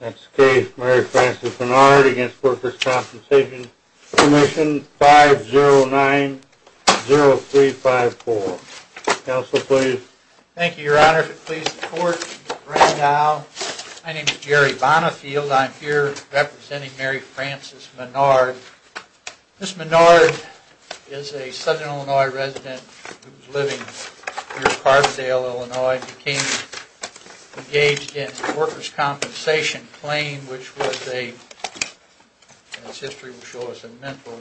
Next case, Mary Frances Menard v. The Workers' Compensation Commission, 5090354. Counsel, please. Thank you, Your Honor. If it pleases the Court, Mr. Randolph. My name is Jerry Bonifield. I'm here representing Mary Frances Menard. Ms. Menard is a Southern Illinois resident who was living near Carbondale, Illinois, and became engaged in a workers' compensation claim, which was a, and its history will show us, a mental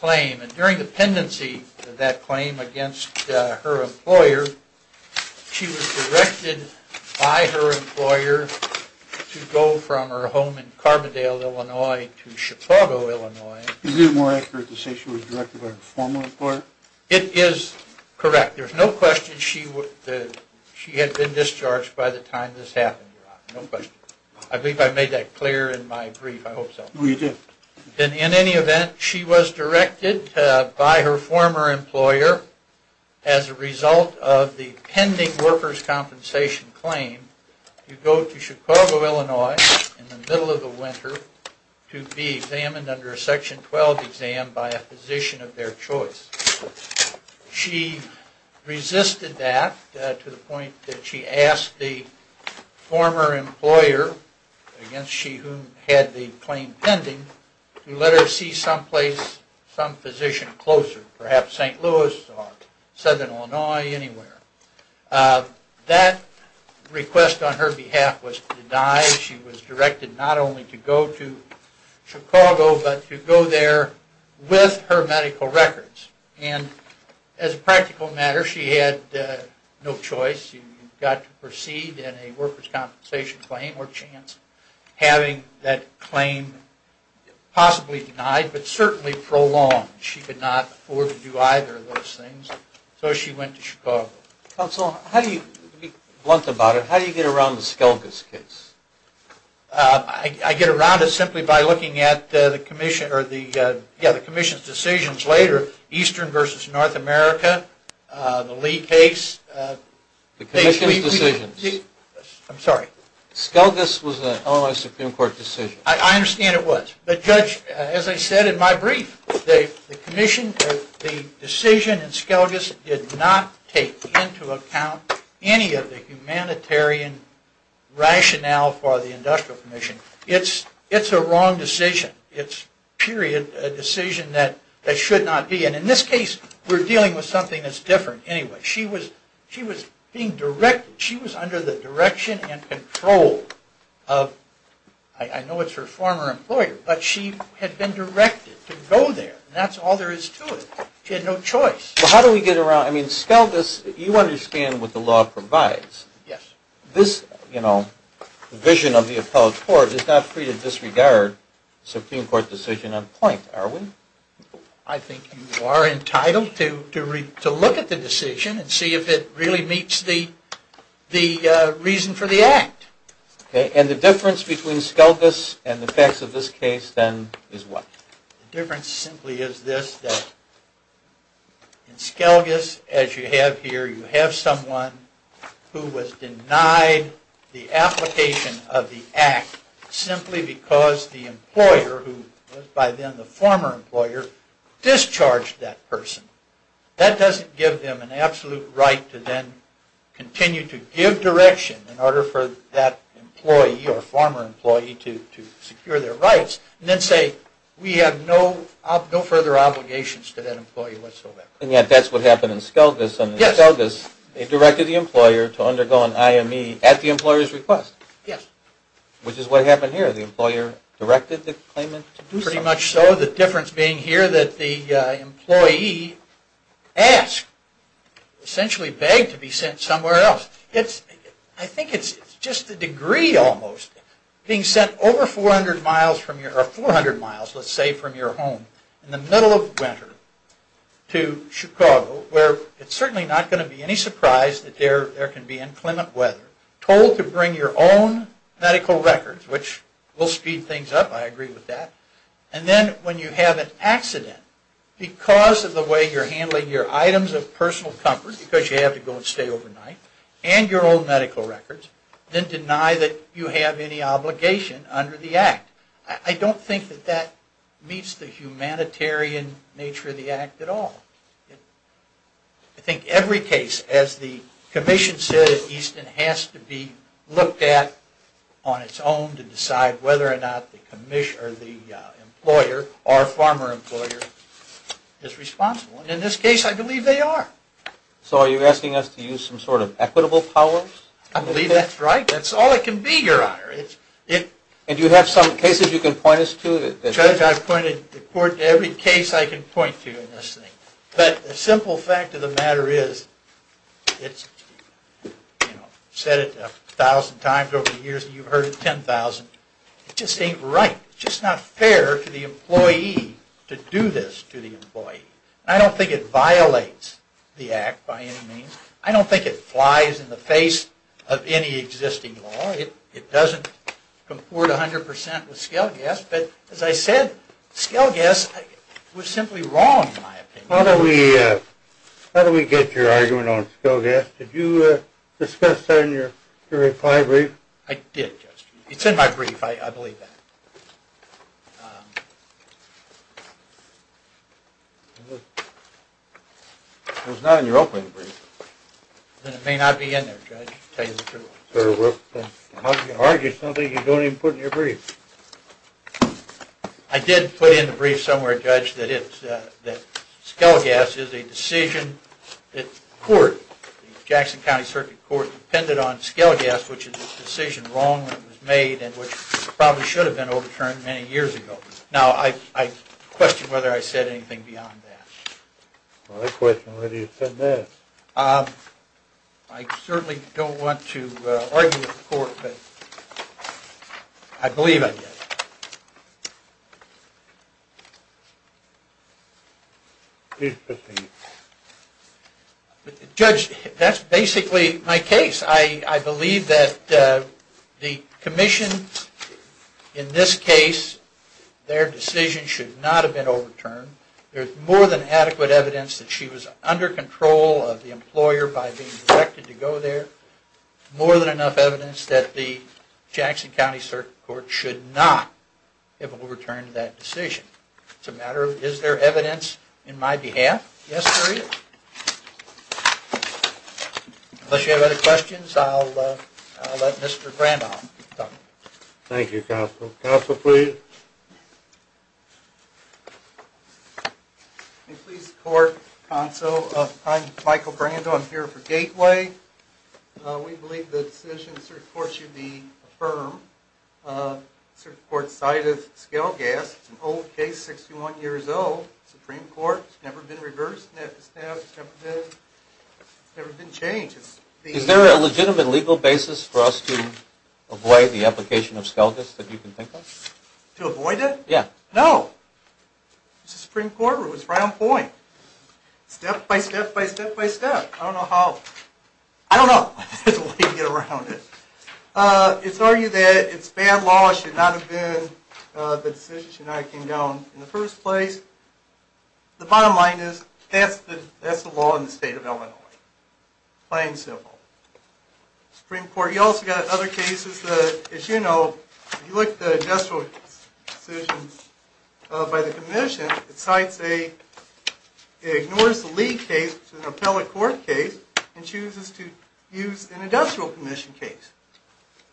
claim. And during the pendency of that claim against her employer, she was directed by her employer to go from her home in Carbondale, Illinois to Chicago, Illinois. Is it more accurate to say she was directed by her former employer? It is correct. There's no question she had been discharged by the time this happened, Your Honor. No question. I believe I made that clear in my brief. I hope so. Oh, you did. In any event, she was directed by her former employer, as a result of the pending workers' compensation claim, to go to Chicago, Illinois in the middle of the winter to be examined under a Section 12 exam by a physician of their choice. She resisted that to the point that she asked the former employer, against she who had the claim pending, to let her see some place, some physician closer, perhaps St. Louis or Southern Illinois, anywhere. That request on her behalf was denied. She was directed not only to go to Chicago, but to go there with her medical records. And as a practical matter, she had no choice. She got to proceed in a workers' compensation claim or chance, having that claim possibly denied, but certainly prolonged. She could not afford to do either of those things. So she went to Chicago. Counsel, to be blunt about it, how do you get around the Skelges case? I get around it simply by looking at the Commission's decisions later, Eastern v. North America, the Lee case. The Commission's decisions. I'm sorry. Skelges was an Illinois Supreme Court decision. I understand it was. But Judge, as I said in my brief, the Commission, the decision in Skelges, did not take into account any of the humanitarian rationale for the Industrial Commission. It's a wrong decision. It's, period, a decision that should not be. And in this case, we're dealing with something that's different anyway. She was being directed. She was under the direction and control of, I know it's her former employer, but she had been directed to go there. That's all there is to it. She had no choice. Well, how do we get around, I mean, Skelges, you understand what the law provides. Yes. This, you know, vision of the appellate court is not free to disregard Supreme Court decision on point, are we? I think you are entitled to look at the decision and see if it really meets the reason for the Act. And the difference between Skelges and the facts of this case, then, is what? The difference simply is this, that in Skelges, as you have here, you have someone who was denied the application of the Act simply because the employer, who was by then the former employer, discharged that person. That doesn't give them an absolute right to then continue to give direction in order for that employee or former employee to secure their rights and then say, we have no further obligations to that employee whatsoever. And yet, that's what happened in Skelges. Yes. In Skelges, they directed the employer to undergo an IME at the employer's request. Yes. Which is what happened here. The employer directed the claimant to do so. Pretty much so. The difference being here that the employee asked, essentially begged, to be sent somewhere else. I think it's just the degree, almost, being sent over 400 miles, let's say, from your home in the middle of winter to Chicago, where it's certainly not going to be any surprise that there can be inclement weather, told to bring your own medical records, which will speed things up, I agree with that. And then, when you have an accident, because of the way you're handling your items of personal comfort, because you have to go and stay overnight, and your own medical records, then deny that you have any obligation under the Act. I don't think that that meets the humanitarian nature of the Act at all. I think every case, as the Commission said at Easton, has to be looked at on its own to decide whether or not the employer, or former employer, is responsible. And in this case, I believe they are. So, are you asking us to use some sort of equitable powers? I believe that's right. That's all it can be, Your Honor. And do you have some cases you can point us to? Judge, I've pointed the Court to every case I can point to in this thing. But the simple fact of the matter is, it's, you know, said it a thousand times over the years, and you've heard it 10,000 times. It just ain't right. It's just not fair to the employee to do this to the employee. I don't think it violates the Act by any means. I don't think it flies in the face of any existing law. It doesn't comport 100 percent with scale gas. But as I said, scale gas was simply wrong, in my opinion. How do we get your argument on scale gas? Did you discuss that in your reply brief? I did, Judge. It's in my brief. I believe that. It was not in your opening brief. Then it may not be in there, Judge, to tell you the truth. How can you argue something you don't even put in your brief? I did put in the brief somewhere, Judge, that scale gas is a decision that the Court, the Jackson County Circuit Court, depended on scale gas, which is a decision wrong that was made and which probably should have been overturned many years ago. Now, I question whether I said anything beyond that. Well, I question whether you said that. I certainly don't want to argue with the Court, but I believe I did. Please proceed. Judge, that's basically my case. I believe that the Commission, in this case, their decision should not have been overturned. There's more than adequate evidence that she was under control of the employer by being directed to go there, more than enough evidence that the Jackson County Circuit Court should not have overturned that decision. It's a matter of, is there evidence in my behalf? Yes, there is. Unless you have other questions, I'll let Mr. Grandolph talk. Thank you, Counsel. Counsel, please. Please support, Counsel. I'm Michael Grandolph. I'm here for Gateway. We believe the decision of the Circuit Court should be affirmed. The Circuit Court cited scale gas. It's an old case, 61 years old. Supreme Court. It's never been reversed. It's never been changed. Is there a legitimate legal basis for us to avoid the application of scale gas that you can think of? To avoid it? Yeah. No. It's the Supreme Court rule. It's right on point. Step by step by step by step. I don't know how. I don't know. There's a way to get around it. It's argued that it's bad law. It should not have been, the decision should not have come down in the first place. The bottom line is, that's the law in the state of Illinois. Plain and simple. Supreme Court. You also got other cases that, as you know, if you look at the industrial decisions by the Commission, it ignores the Lee case, which is an appellate court case, and chooses to use an industrial commission case.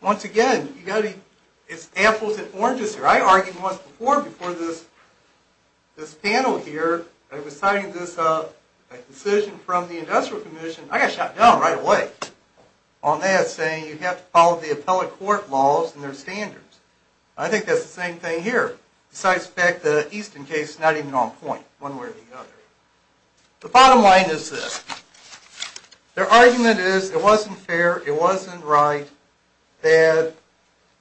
Once again, it's apples and oranges here. My argument was before this panel here, I was signing this up, a decision from the industrial commission. I got shot down right away on that, saying you have to follow the appellate court laws and their standards. I think that's the same thing here. Besides the fact that the Easton case is not even on point, one way or the other. The bottom line is this. Their argument is it wasn't fair, it wasn't right, that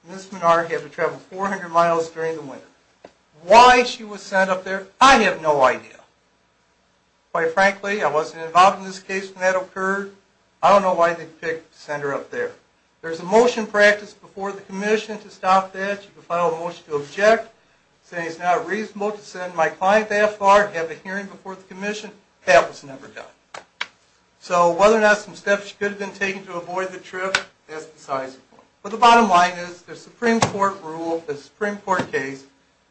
Ms. Menard had to travel 400 miles during the winter. Why she was sent up there, I have no idea. Quite frankly, I wasn't involved in this case when that occurred. I don't know why they picked to send her up there. There's a motion practiced before the Commission to stop that. You can file a motion to object, saying it's not reasonable to send my client that far and have a hearing before the Commission. That was never done. So whether or not some steps should have been taken to avoid the trip, that's besides the point. But the bottom line is, the Supreme Court rule, the Supreme Court case,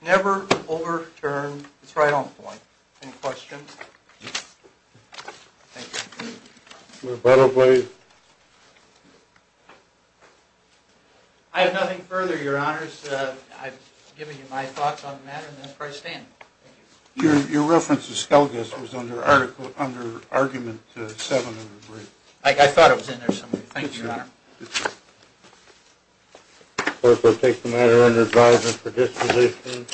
never overturned. It's right on point. Any questions? Thank you. I have nothing further, Your Honors. I've given you my thoughts on the matter, and that's where I stand. Your reference to Skelgis was under argument 7 of the brief. I thought it was in there somewhere. Thank you, Your Honor. Good job. Clerk, I'll take the matter under advisement for disposition.